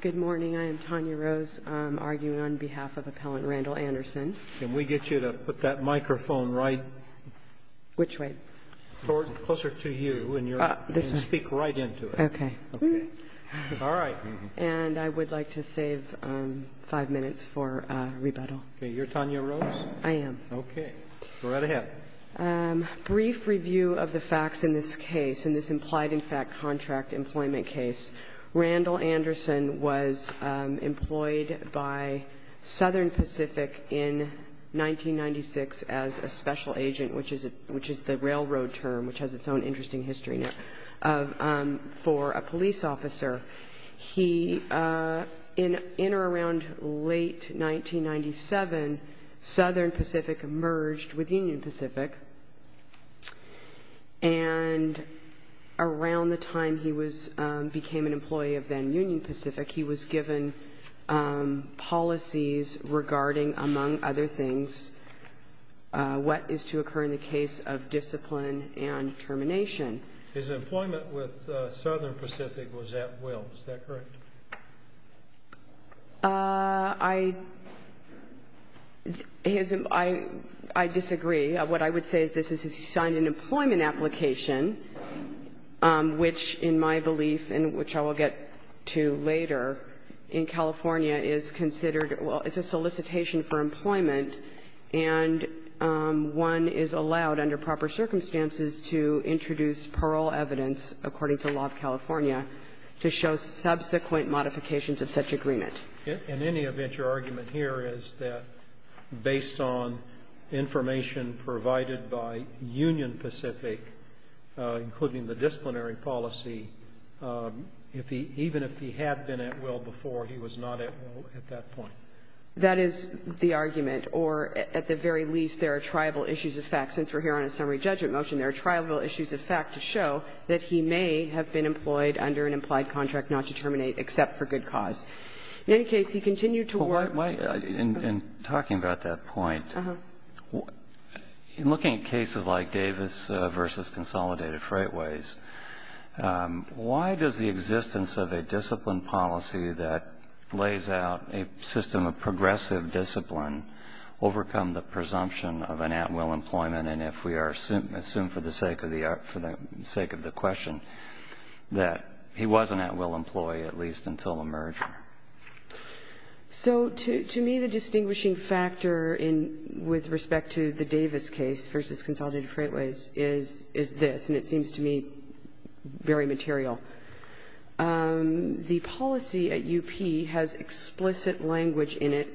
Good morning, I am Tanya Rose arguing on behalf of Appellant Randall Anderson. Can we get you to put that microphone right... Which way? Closer to you and speak right into it. Okay. All right. And I would like to save five minutes for rebuttal. Okay, you're Tanya Rose? I am. Okay, go right ahead. Brief review of the facts in this case, in this implied in fact contract employment case. Randall Anderson was employed by Southern Pacific in 1996 as a special agent, which is the railroad term, which has its own interesting history now, for a police officer. He, in or around late 1997, Southern Pacific merged with Union Pacific. And around the time he became an employee of then Union Pacific, he was given policies regarding, among other things, what is to occur in the case of discipline and termination. His employment with Southern Pacific was at will, is that correct? I disagree. What I would say is this is he signed an employment application, which in my belief and which I will get to later, in California is considered, well, it's a solicitation for employment, and one is allowed under proper circumstances to introduce parole evidence according to law of California to show subsequent modifications of such agreement. In any event, your argument here is that based on information provided by Union Pacific, including the disciplinary policy, if he, even if he had been at will before, he was not at will at that point. That is the argument. Or at the very least, there are tribal issues of fact. That he may have been employed under an implied contract not to terminate, except for good cause. In any case, he continued to work. In talking about that point, in looking at cases like Davis versus Consolidated Freightways, why does the existence of a discipline policy that lays out a system of progressive discipline overcome the presumption of an at-will employment? And if we assume for the sake of the question that he was an at-will employee, at least until the merger. So to me, the distinguishing factor with respect to the Davis case versus Consolidated Freightways is this, and it seems to me very material. The policy at UP has explicit language in it,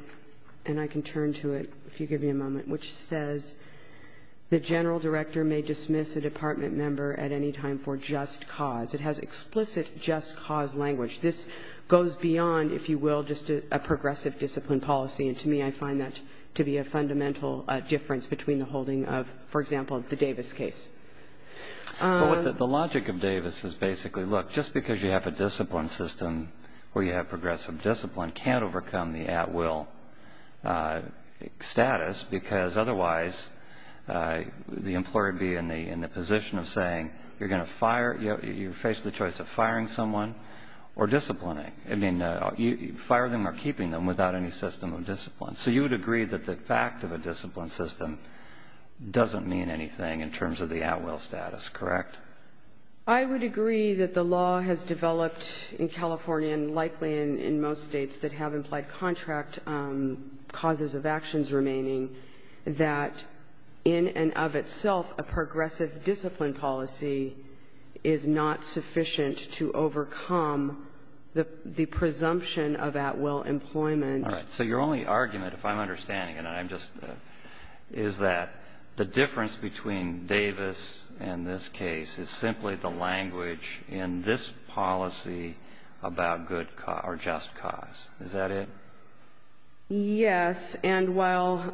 and I can turn to it if you give me a moment, which says the general director may dismiss a department member at any time for just cause. It has explicit just cause language. This goes beyond, if you will, just a progressive discipline policy, and to me, I find that to be a fundamental difference between the holding of, for example, the Davis case. But the logic of Davis is basically, look, just because you have a discipline system where you have progressive discipline can't overcome the at-will status, because otherwise the employer would be in the position of saying you're going to fire, you face the choice of firing someone or disciplining. I mean, fire them or keeping them without any system of discipline. So you would agree that the fact of a discipline system doesn't mean anything in terms of the at-will status, correct? I would agree that the law has developed in California and likely in most states that have implied contract causes of actions remaining, that in and of itself a progressive discipline policy is not sufficient to overcome the presumption of at-will employment. All right. So your only argument, if I'm understanding it, and I'm just – is that the difference between Davis and this case is simply the language in this policy about good – or just cause. Is that it? Yes. And while,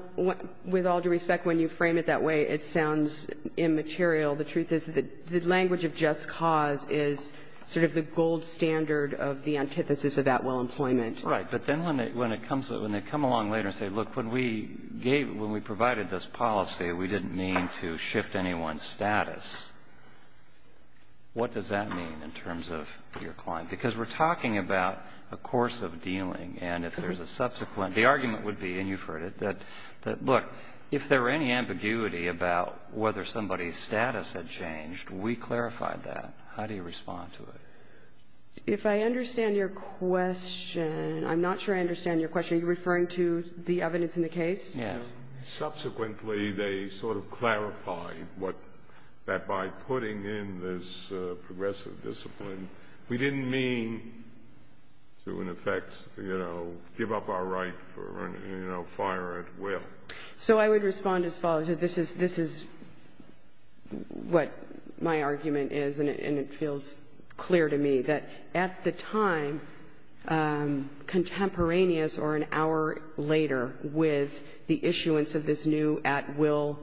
with all due respect, when you frame it that way, it sounds immaterial, the truth is that the language of just cause is sort of the gold standard of the antithesis of at-will employment. Right. But then when it comes – when they come along later and say, look, when we provided this policy, we didn't mean to shift anyone's status, what does that mean in terms of your client? Because we're talking about a course of dealing, and if there's a subsequent – the argument would be, and you've heard it, that, look, if there were any ambiguity about whether somebody's status had changed, we clarified that. How do you respond to it? If I understand your question – I'm not sure I understand your question. Are you referring to the evidence in the case? Yes. Subsequently, they sort of clarified what – that by putting in this progressive discipline, we didn't mean to, in effect, you know, give up our right for, you know, fire at will. So I would respond as follows. This is – this is what my argument is, and it feels clear to me, that at the time, contemporaneous or an hour later with the issuance of this new at-will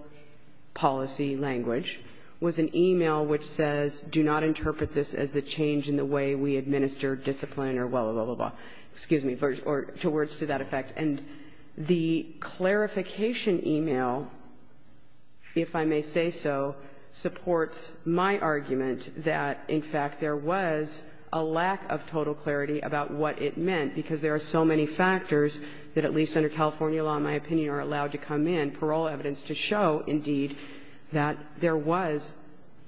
policy language was an email which says, do not interpret this as a change in the way we administer discipline or blah, blah, blah, blah, blah. Excuse me. Or to words to that effect. And the clarification email, if I may say so, supports my argument that, in fact, there was a lack of total clarity about what it meant, because there are so many factors that, at least under California law, in my opinion, are allowed to come in, parole evidence to show, indeed, that there was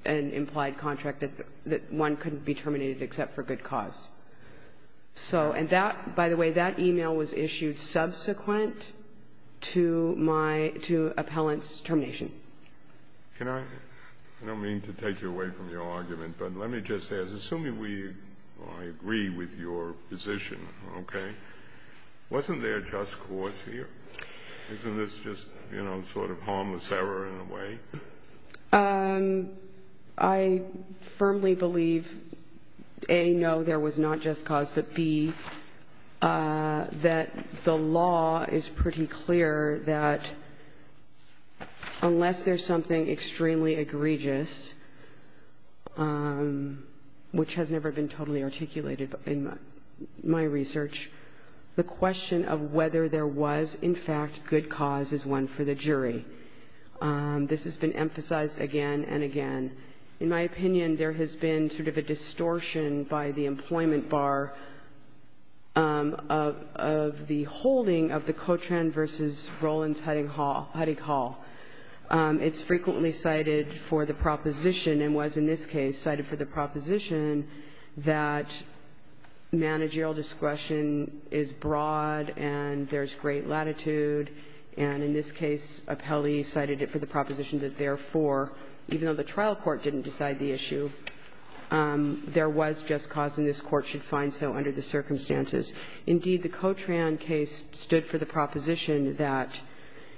an implied contract that one couldn't be terminated except for good cause. So – and that – by the way, that email was issued subsequent to my – to appellant's termination. Can I – I don't mean to take you away from your argument, but let me just say, assuming we – I agree with your position, okay, wasn't there just cause here? Isn't this just, you know, sort of harmless error in a way? I firmly believe, A, no, there was not just cause, but, B, that the law is pretty clear that unless there's something extremely egregious, which has never been totally articulated in my research, the question of whether there was, in fact, This has been emphasized again and again. In my opinion, there has been sort of a distortion by the employment bar of the holding of the Cotran v. Rollins-Hutting Hall. It's frequently cited for the proposition, and was in this case cited for the proposition, that managerial discretion is broad and there's great latitude, and in this case, appellee cited it for the proposition that, therefore, even though the trial court didn't decide the issue, there was just cause, and this court should find so under the circumstances. Indeed, the Cotran case stood for the proposition that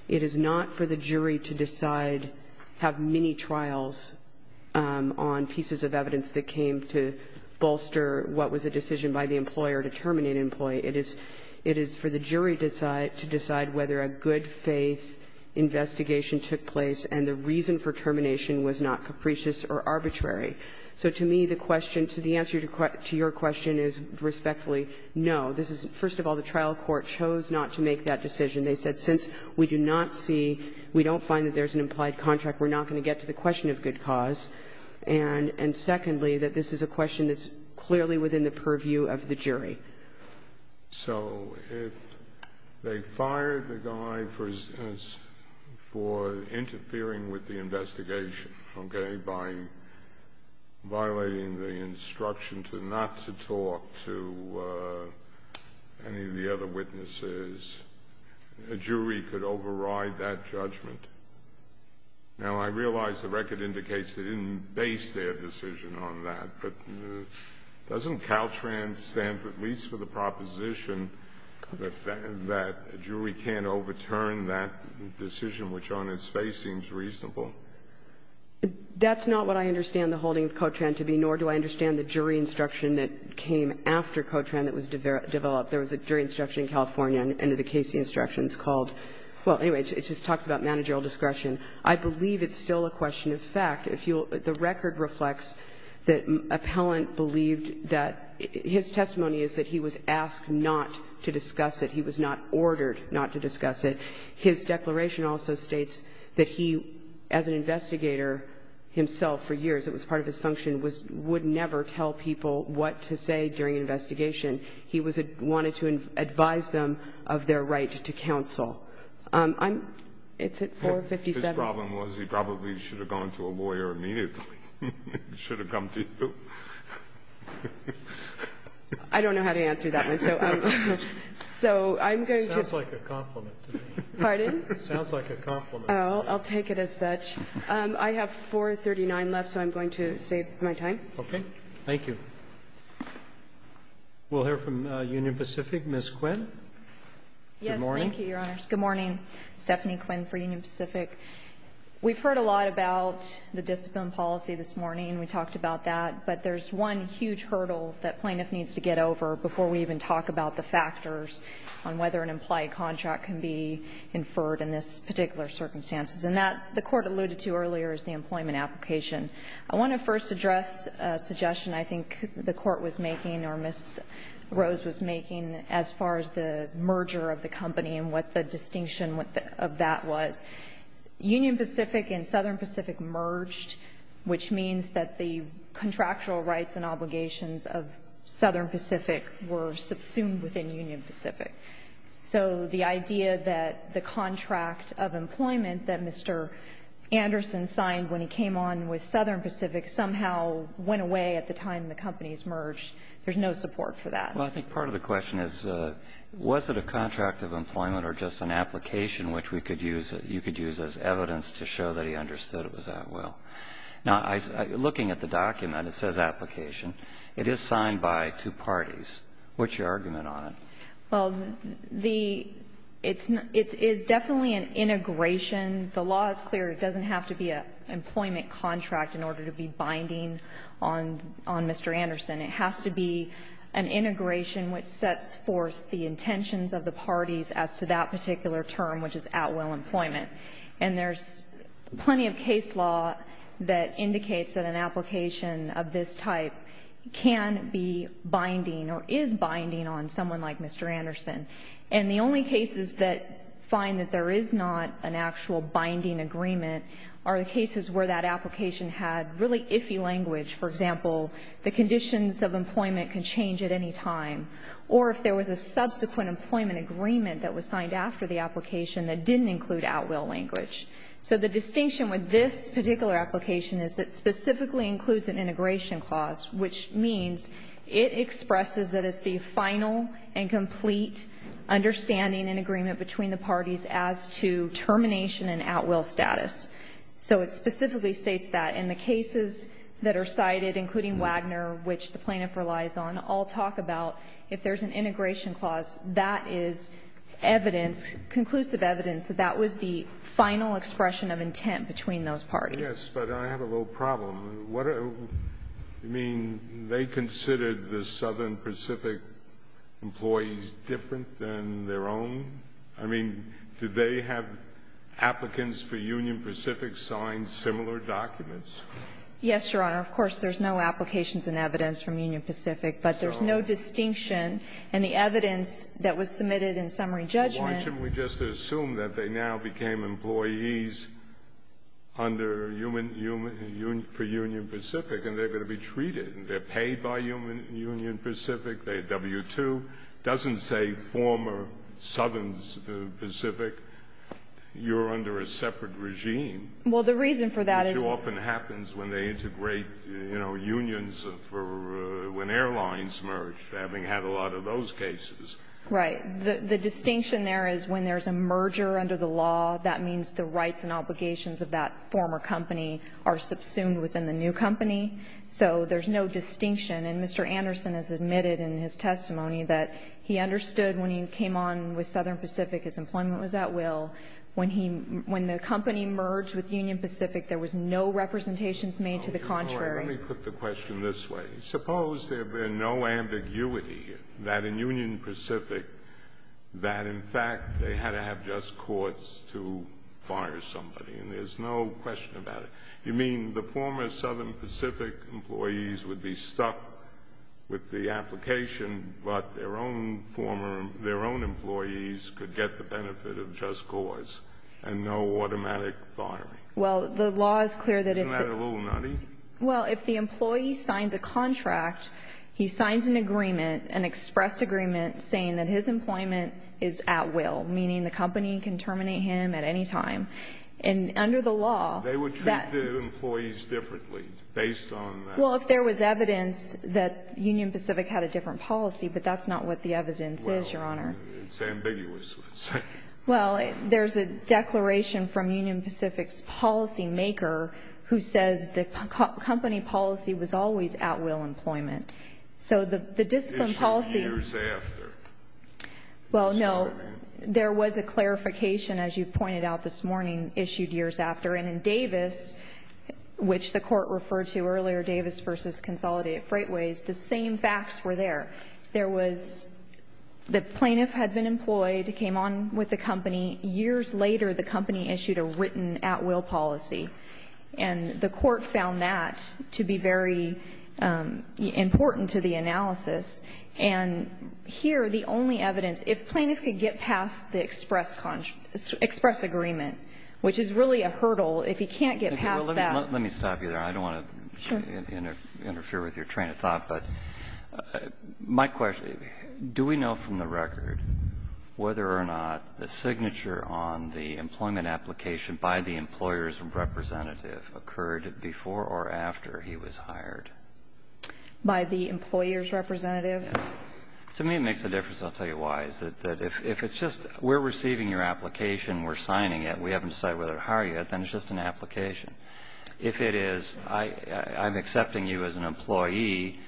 it is not for the jury to decide – have mini-trials on pieces of evidence that came to bolster what was a decision by the employer to terminate an employee. It is for the jury to decide whether a good-faith investigation took place and the reason for termination was not capricious or arbitrary. So to me, the question – the answer to your question is respectfully no. This is – first of all, the trial court chose not to make that decision. They said, since we do not see – we don't find that there's an implied contract, we're not going to get to the question of good cause. And secondly, that this is a question that's clearly within the purview of the jury. So if they fired the guy for interfering with the investigation, okay, by violating the instruction to not to talk to any of the other witnesses, a jury could override that judgment. Now, I realize the record indicates they didn't base their decision on that, but doesn't Caltran stand at least for the proposition that a jury can't overturn that decision, which on its face seems reasonable? That's not what I understand the holding of Caltran to be, nor do I understand the jury instruction that came after Caltran that was developed. There was a jury instruction in California under the Casey instructions called – well, anyway, it just talks about managerial discretion. I believe it's still a question of fact. The record reflects that Appellant believed that – his testimony is that he was asked not to discuss it. He was not ordered not to discuss it. His declaration also states that he, as an investigator himself for years, it was part of his function, would never tell people what to say during an investigation. He wanted to advise them of their right to counsel. I'm – it's at 457. The problem was he probably should have gone to a lawyer immediately. He should have come to you. I don't know how to answer that one. So I'm going to – It sounds like a compliment to me. Pardon? It sounds like a compliment. Oh, I'll take it as such. I have 439 left, so I'm going to save my time. Okay. Thank you. We'll hear from Union Pacific. Ms. Quinn. Yes, thank you, Your Honors. Good morning. Stephanie Quinn for Union Pacific. We've heard a lot about the discipline policy this morning. We talked about that. But there's one huge hurdle that plaintiff needs to get over before we even talk about the factors on whether an implied contract can be inferred in this particular circumstances. And that, the Court alluded to earlier, is the employment application. I want to first address a suggestion I think the Court was making or Ms. Rose was making as far as the merger of the company and what the distinction of that was. Union Pacific and Southern Pacific merged, which means that the contractual rights and obligations of Southern Pacific were subsumed within Union Pacific. So the idea that the contract of employment that Mr. Anderson signed when he came on with Southern Pacific somehow went away at the time the companies merged, there's no support for that. Well, I think part of the question is, was it a contract of employment or just an application which we could use, you could use as evidence to show that he understood it was that well? Now, looking at the document, it says application. It is signed by two parties. What's your argument on it? Well, the, it's definitely an integration. The law is clear. It doesn't have to be an employment contract in order to be binding on Mr. Anderson. It has to be an integration which sets forth the intentions of the parties as to that particular term, which is at-will employment. And there's plenty of case law that indicates that an application of this type can be binding or is binding on someone like Mr. Anderson. And the only cases that find that there is not an actual binding agreement are the cases where that application had really iffy language. For example, the conditions of employment can change at any time. Or if there was a subsequent employment agreement that was signed after the application that didn't include at-will language. So the distinction with this particular application is it specifically includes an integration clause, which means it expresses that it's the final and complete understanding and agreement between the parties as to termination and at-will status. So it specifically states that. And the cases that are cited, including Wagner, which the plaintiff relies on, all talk about if there's an integration clause, that is evidence, conclusive evidence that that was the final expression of intent between those parties. Yes, but I have a little problem. What do you mean? They considered the Southern Pacific employees different than their own? I mean, did they have applicants for Union Pacific sign similar documents? Yes, Your Honor. Of course, there's no applications and evidence from Union Pacific. But there's no distinction. And the evidence that was submitted in summary judgment — Why shouldn't we just assume that they now became employees under human — for Union Pacific and they're going to be treated and they're paid by Union Pacific? They had W-2. It doesn't say former Southern Pacific, you're under a separate regime. Well, the reason for that is — Which often happens when they integrate, you know, unions for when airlines merge, having had a lot of those cases. Right. The distinction there is when there's a merger under the law, that means the rights and obligations of that former company are subsumed within the new company. So there's no distinction. And Mr. Anderson has admitted in his testimony that he understood when he came on with Southern Pacific, his employment was at will. When he — when the company merged with Union Pacific, there was no representations made to the contrary. Let me put the question this way. Suppose there were no ambiguity that in Union Pacific that, in fact, they had to have just courts to fire somebody. And there's no question about it. You mean the former Southern Pacific employees would be stuck with the application, but their own former — their own employees could get the benefit of just courts and no automatic firing? Well, the law is clear that if — Isn't that a little nutty? Well, if the employee signs a contract, he signs an agreement, an express agreement, saying that his employment is at will, meaning the company can terminate him at any time. And under the law — They would treat the employees differently based on that. Well, if there was evidence that Union Pacific had a different policy, but that's not what the evidence is, Your Honor. Well, it's ambiguous, let's say. Well, there's a declaration from Union Pacific's policymaker who says the company policy was always at will employment. So the discipline policy — Issued years after. Well, no. There was a clarification, as you've pointed out this morning, issued years after. And in Davis, which the Court referred to earlier, Davis v. Consolidated Freightways, the same facts were there. There was — the plaintiff had been employed, came on with the company. Years later, the company issued a written at-will policy. And the Court found that to be very important to the analysis. And here, the only evidence — If plaintiff could get past the express agreement, which is really a hurdle, if he can't get past that — Let me stop you there. I don't want to interfere with your train of thought. But my question, do we know from the record whether or not the signature on the employment application by the employer's representative occurred before or after he was hired? By the employer's representative? To me, it makes a difference. I'll tell you why. It's that if it's just we're receiving your application, we're signing it, we haven't decided whether to hire you yet, then it's just an application. If it is, I'm accepting you as an employee,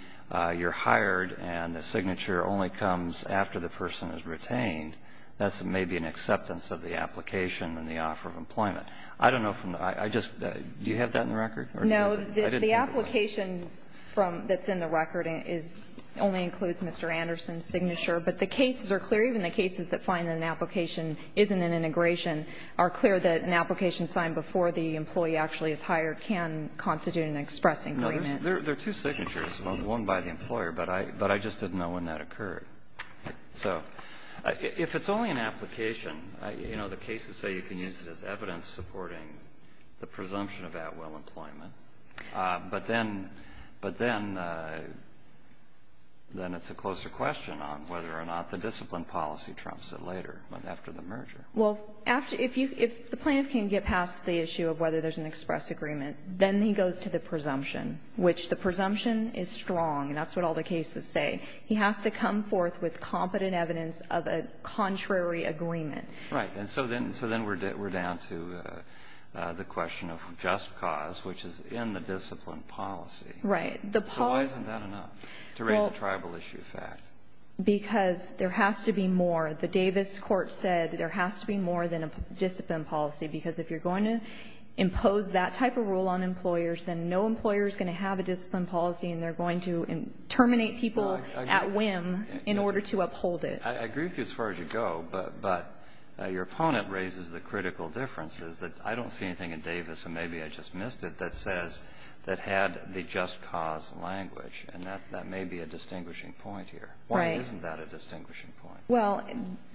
you're hired, and the signature only comes after the person is retained, that's maybe an acceptance of the application and the offer of employment. I don't know from the — I just — do you have that in the record? No. The application from — that's in the record is — only includes Mr. Anderson's signature, but the cases are clear. Even the cases that find that an application isn't an integration are clear that an application signed before the employee actually is hired can constitute an express agreement. There are two signatures, one by the employer, but I just didn't know when that occurred. So if it's only an application, you know, the cases say you can use it as evidence supporting the presumption of at-will employment. But then it's a closer question on whether or not the discipline policy trumps it later, after the merger. Well, if the plaintiff can get past the issue of whether there's an express agreement, then he goes to the presumption, which the presumption is strong, and that's what all the cases say. He has to come forth with competent evidence of a contrary agreement. Right. And so then we're down to the question of just cause, which is in the discipline policy. Right. The policy — So why isn't that enough to raise a tribal issue of fact? Because there has to be more. The Davis court said there has to be more than a discipline policy, because if you're going to impose that type of rule on employers, then no employer is going to have a discipline policy, and they're going to terminate people at whim in order to uphold I agree with you as far as you go, but your opponent raises the critical differences that I don't see anything in Davis, and maybe I just missed it, that says that had the just cause language. And that may be a distinguishing point here. Right. Why isn't that a distinguishing point? Well,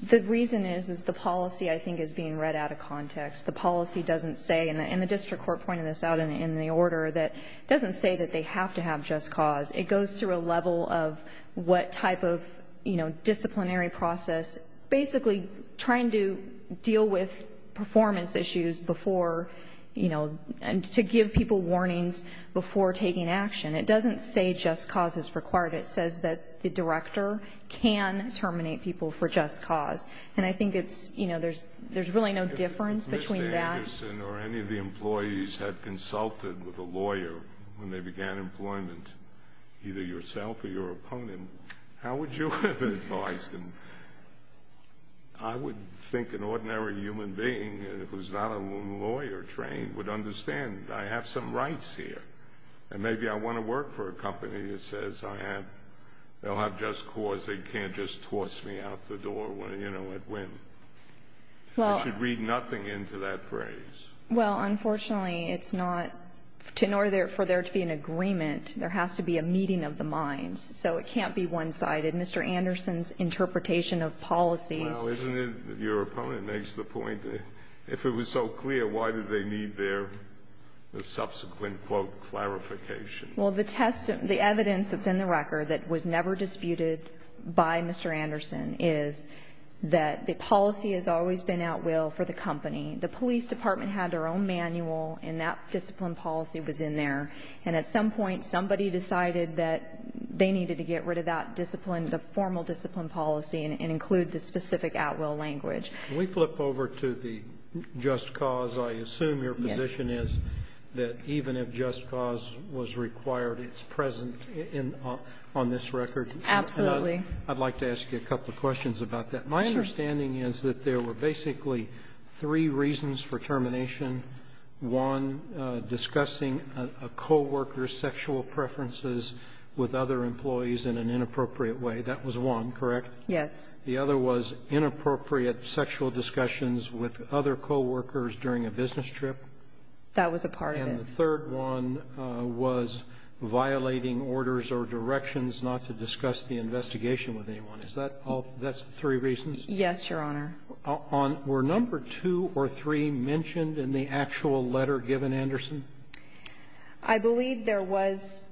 the reason is, is the policy, I think, is being read out of context. The policy doesn't say, and the district court pointed this out in the order, that it doesn't say that they have to have just cause. It goes through a level of what type of, you know, disciplinary process, basically trying to deal with performance issues before, you know, and to give people warnings before taking action. It doesn't say just cause is required. It says that the director can terminate people for just cause. And I think it's, you know, there's really no difference between that. If a person or any of the employees had consulted with a lawyer when they began employment, either yourself or your opponent, how would you have advised them? I would think an ordinary human being who's not a lawyer trained would understand. I have some rights here. And maybe I want to work for a company that says I have, they'll have just cause, they can't just toss me out the door, you know, at whim. I should read nothing into that phrase. Well, unfortunately, it's not to nor for there to be an agreement. There has to be a meeting of the minds. So it can't be one-sided. Mr. Anderson's interpretation of policies. Well, isn't it, your opponent makes the point, if it was so clear, why did they need their subsequent, quote, clarification? Well, the test, the evidence that's in the record that was never disputed by Mr. Anderson is that the policy has always been at will for the company. The police department had their own manual, and that discipline policy was in there. And at some point, somebody decided that they needed to get rid of that discipline, the formal discipline policy, and include the specific at will language. Can we flip over to the just cause? I assume your position is that even if just cause was required, it's present on this record. Absolutely. I'd like to ask you a couple of questions about that. Sure. My understanding is that there were basically three reasons for termination. One, discussing a coworker's sexual preferences with other employees in an inappropriate way. That was one, correct? Yes. The other was inappropriate sexual discussions with other coworkers during a business That was a part of it. And the third one was violating orders or directions not to discuss the investigation with anyone. Is that all? That's the three reasons? Yes, Your Honor. Were number two or three mentioned in the actual letter given Anderson? I believe there was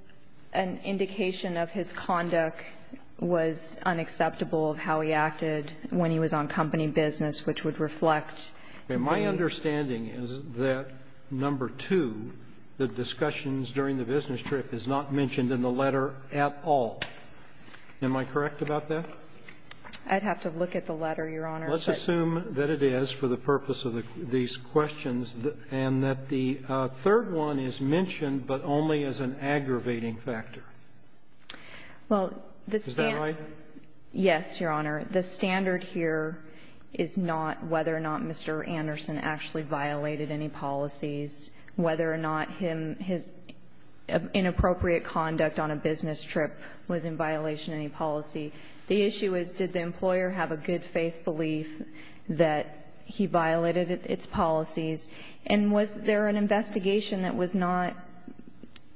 an indication of his conduct was unacceptable of how he acted when he was on company business, which would reflect the ---- the discussions during the business trip is not mentioned in the letter at all. Am I correct about that? I'd have to look at the letter, Your Honor. Let's assume that it is for the purpose of these questions and that the third one is mentioned, but only as an aggravating factor. Well, the standard ---- Is that right? Yes, Your Honor. The standard here is not whether or not Mr. Anderson actually violated any policies, whether or not him ---- his inappropriate conduct on a business trip was in violation of any policy. The issue is did the employer have a good faith belief that he violated its policies? And was there an investigation that was not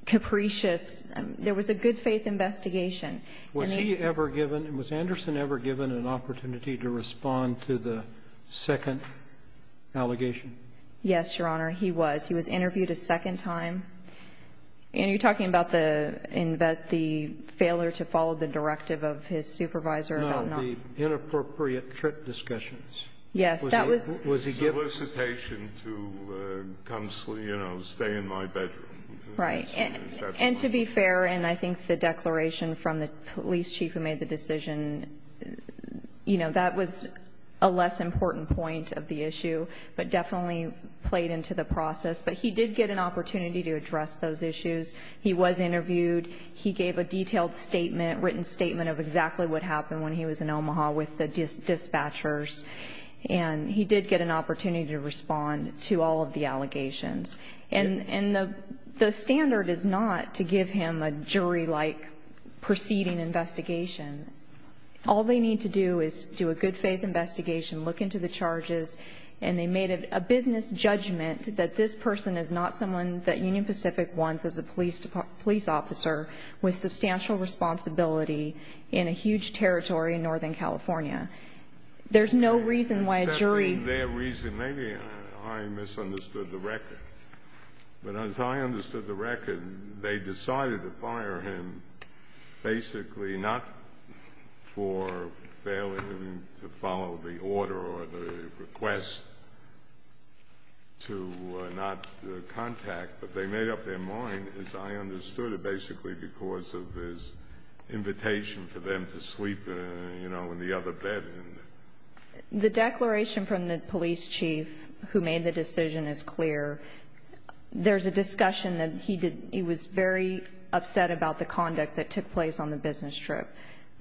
capricious? There was a good faith investigation. Was he ever given ---- was Anderson ever given an opportunity to respond to the second allegation? Yes, Your Honor. He was. He was interviewed a second time. And you're talking about the invest ---- the failure to follow the directive of his supervisor about not ---- No, the inappropriate trip discussions. Yes, that was ---- Was he given ---- Solicitation to, you know, stay in my bedroom. Right. And to be fair, and I think the declaration from the police chief who made the decision, you know, that was a less important point of the issue, but definitely played into the process. But he did get an opportunity to address those issues. He was interviewed. He gave a detailed statement, written statement of exactly what happened when he was in Omaha with the dispatchers. And he did get an opportunity to respond to all of the allegations. And the standard is not to give him a jury-like proceeding investigation. All they need to do is do a good-faith investigation, look into the charges, and they made a business judgment that this person is not someone that Union Pacific wants as a police officer with substantial responsibility in a huge territory in northern California. There's no reason why a jury ---- Maybe I misunderstood the record. But as I understood the record, they decided to fire him basically not for failing him to follow the order or the request to not contact, but they made up their mind, as I understood it, basically because of his invitation for them to sleep, you know, in the other bed. The declaration from the police chief who made the decision is clear. There's a discussion that he did ---- he was very upset about the conduct that took place on the business trip.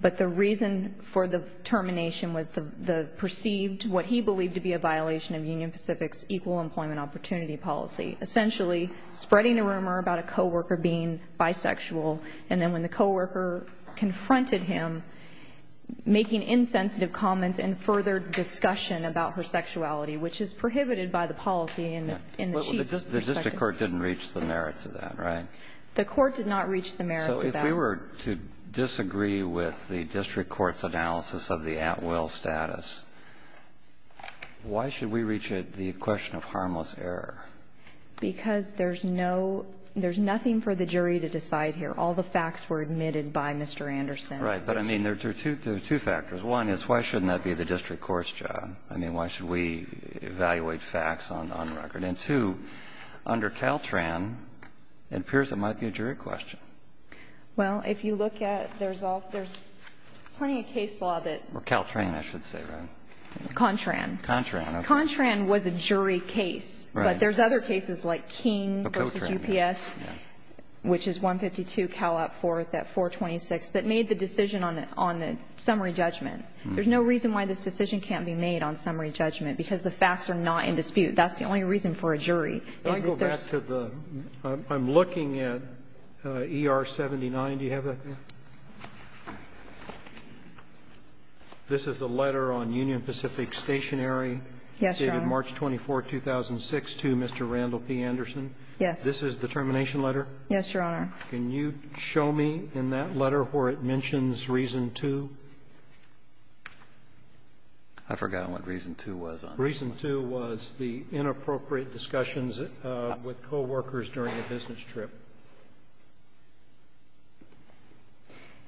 But the reason for the termination was the perceived, what he believed to be a violation of Union Pacific's equal employment opportunity policy, essentially spreading a rumor about a coworker being bisexual. And then when the coworker confronted him, making insensitive comments and further discussion about her sexuality, which is prohibited by the policy in the chief's perspective. But the district court didn't reach the merits of that, right? The court did not reach the merits of that. So if we were to disagree with the district court's analysis of the at-will status, why should we reach the question of harmless error? Because there's no ---- there's nothing for the jury to decide here. All the facts were admitted by Mr. Anderson. Right. But, I mean, there are two factors. One is why shouldn't that be the district court's job? I mean, why should we evaluate facts on record? And two, under Caltran, it appears it might be a jury question. Well, if you look at the result, there's plenty of case law that ---- Or Caltran, I should say, right? Contran. Contran. Contran was a jury case. But there's other cases like King v. UPS, which is 152 Calat 4, that 426, that made the decision on the summary judgment. There's no reason why this decision can't be made on summary judgment, because the facts are not in dispute. That's the only reason for a jury. Can I go back to the ---- I'm looking at ER-79. Do you have that there? This is the letter on Union Pacific Stationery dated March 24, 2006. This is to Mr. Randall P. Anderson? Yes. This is the termination letter? Yes, Your Honor. Can you show me in that letter where it mentions reason 2? I forgot what reason 2 was on this one. Reason 2 was the inappropriate discussions with coworkers during a business trip.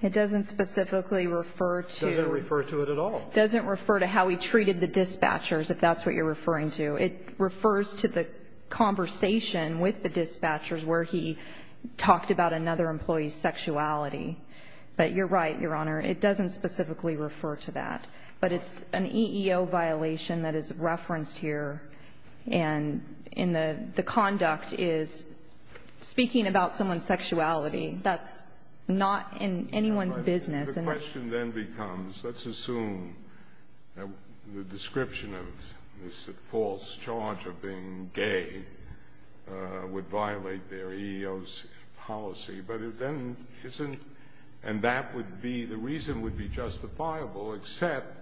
It doesn't specifically refer to ---- It doesn't refer to it at all. It doesn't refer to how we treated the dispatchers, if that's what you're referring to. It refers to the conversation with the dispatchers where he talked about another employee's sexuality. But you're right, Your Honor, it doesn't specifically refer to that. But it's an EEO violation that is referenced here, and in the conduct is speaking about someone's sexuality. That's not in anyone's business. The question then becomes, let's assume the description of this false charge of being gay would violate their EEO policy, but it then isn't, and that would be, the reason would be justifiable, except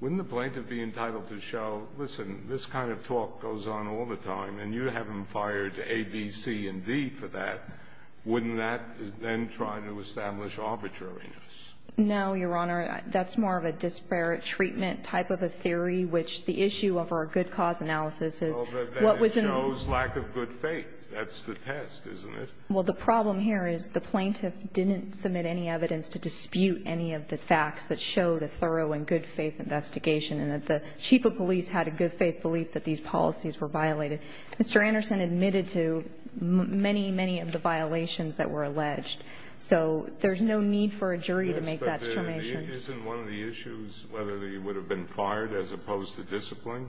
wouldn't the plaintiff be entitled to show, listen, this kind of talk goes on all the time, and you haven't fired A, B, C, and D for that. Wouldn't that then try to establish arbitrariness? No, Your Honor. That's more of a disparate treatment type of a theory, which the issue of our good cause analysis is what was in the ---- Well, but then it shows lack of good faith. That's the test, isn't it? Well, the problem here is the plaintiff didn't submit any evidence to dispute any of the facts that showed a thorough and good faith investigation, and that the chief of police had a good faith belief that these policies were violated. Mr. Anderson admitted to many, many of the violations that were alleged. So there's no need for a jury to make that determination. Yes, but isn't one of the issues whether they would have been fired as opposed to discipline?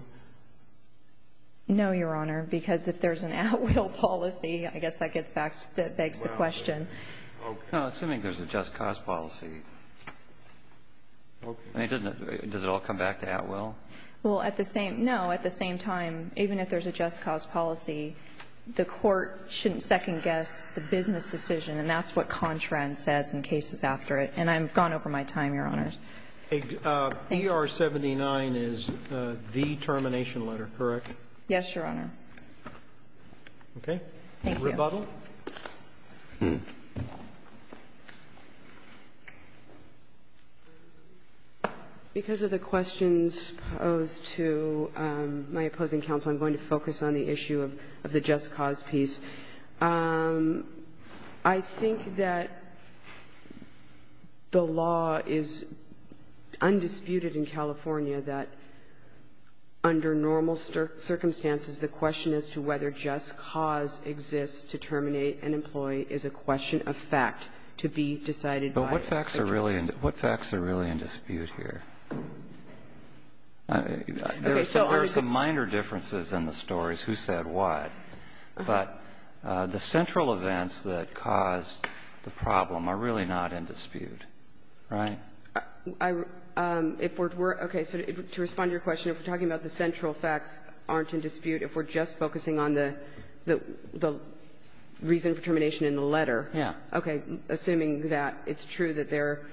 No, Your Honor, because if there's an at-will policy, I guess that gets back to the ---- Well, okay. Assuming there's a just cause policy. Okay. Does it all come back to at-will? Well, at the same ---- no. At the same time, even if there's a just cause policy, the Court shouldn't second guess the business decision, and that's what Contran says in cases after it. And I've gone over my time, Your Honors. BR-79 is the termination letter, correct? Yes, Your Honor. Okay. Thank you. Rebuttal? Because of the questions posed to my opposing counsel, I'm going to focus on the issue of the just cause piece. I think that the law is undisputed in California that under normal circumstances the question as to whether just cause exists to terminate an employee is a question of fact to be decided by a judge. But what facts are really in dispute here? There are some minor differences in the stories, who said what. But the central events that caused the problem are really not in dispute, right? If we're to respond to your question, if we're talking about the central facts aren't in dispute, if we're just focusing on the reason for termination in the letter, okay, assuming that it's true that there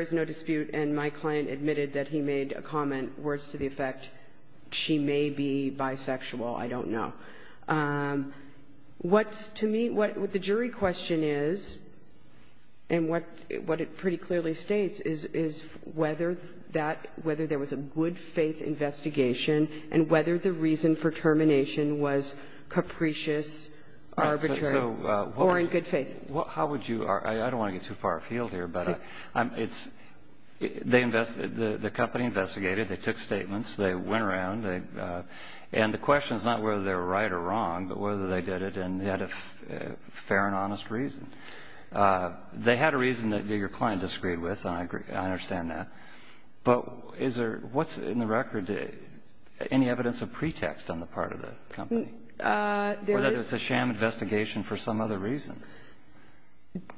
is no dispute and my client admitted that he made a comment worse to the effect, she may be bisexual, I don't know. What's to me, what the jury question is and what it pretty clearly states is whether that, whether there was a good faith investigation and whether the reason for termination was capricious, arbitrary, or in good faith. How would you argue? I don't want to get too far afield here, but it's the company investigated, they took statements, they went around, and the question is not whether they were right or wrong, but whether they did it and had a fair and honest reason. They had a reason that your client disagreed with, and I understand that. But is there, what's in the record, any evidence of pretext on the part of the company? There is. Or that it's a sham investigation for some other reason?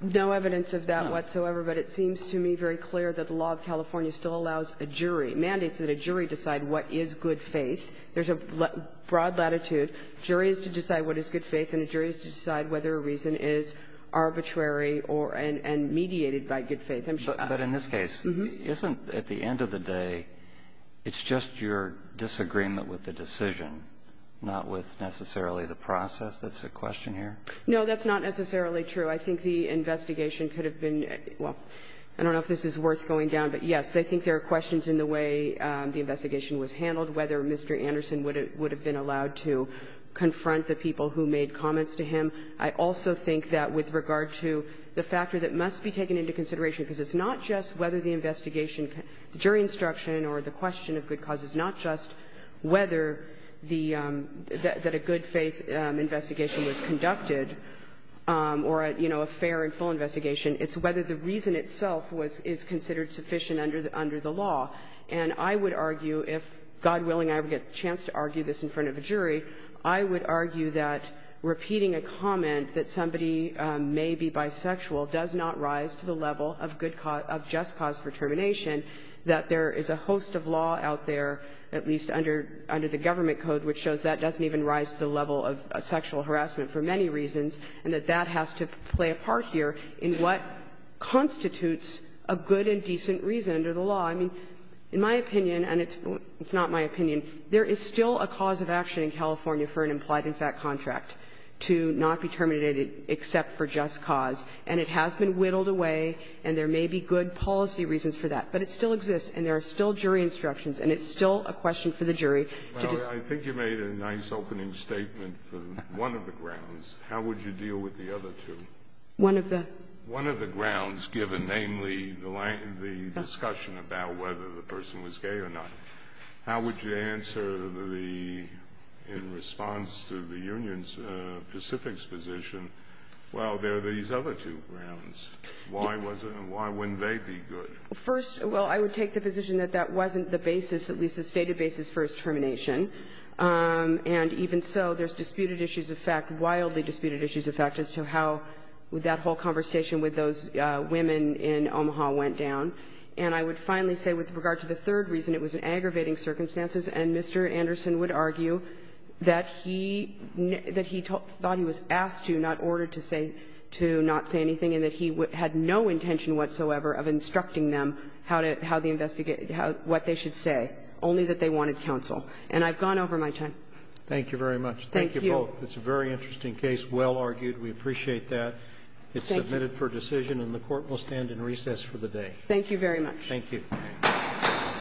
No evidence of that whatsoever, but it seems to me very clear that the law of California still allows a jury, mandates that a jury decide what is good faith. There's a broad latitude. Jury is to decide what is good faith, and a jury is to decide whether a reason is arbitrary or, and mediated by good faith. But in this case, isn't, at the end of the day, it's just your disagreement with the decision, not with necessarily the process? That's the question here? No, that's not necessarily true. I think the investigation could have been, well, I don't know if this is worth going down, but yes, I think there are questions in the way the investigation was handled, whether Mr. Anderson would have been allowed to confront the people who made comments to him. I also think that with regard to the factor that must be taken into consideration, because it's not just whether the investigation, the jury instruction or the question of good cause is not just whether the, that a good faith investigation was conducted or, you know, a fair and full investigation, it's whether the reason itself was, is considered sufficient under the law. And I would argue, if God willing I would get a chance to argue this in front of a jury, I would argue that repeating a comment that somebody may be bisexual does not rise to the level of good cause, of just cause for termination, that there is a host of law out there, at least under, under the government code which shows that doesn't even rise to the level of sexual harassment for many reasons, and that that has to play a part here in what constitutes a good and decent reason under the law. I mean, in my opinion, and it's not my opinion, there is still a cause of action in California for an implied in fact contract to not be terminated except for just cause, and it has been whittled away, and there may be good policy reasons for that. But it still exists, and there are still jury instructions, and it's still a question for the jury to decide. Kennedy. Well, I think you made a nice opening statement for one of the grounds. How would you deal with the other two? One of the? One of the grounds given, namely, the discussion about whether the person was gay or not, how would you answer the, in response to the union's Pacific's position, well, there are these other two grounds. Why wasn't, why wouldn't they be good? First, well, I would take the position that that wasn't the basis, at least the stated basis, for his termination. And even so, there's disputed issues of fact, wildly disputed issues of fact as to how that whole conversation with those women in Omaha went down. And I would finally say with regard to the third reason, it was in aggravating circumstances, and Mr. Anderson would argue that he, that he thought he was asked to, not ordered to say, to not say anything, and that he had no intention whatsoever of instructing them how to, how the investigation, what they should say, only that they wanted counsel. And I've gone over my time. Thank you very much. Thank you. Thank you both. It's a very interesting case, well argued. We appreciate that. Thank you. It's submitted for decision, and the Court will stand in recess for the day. Thank you very much. Thank you.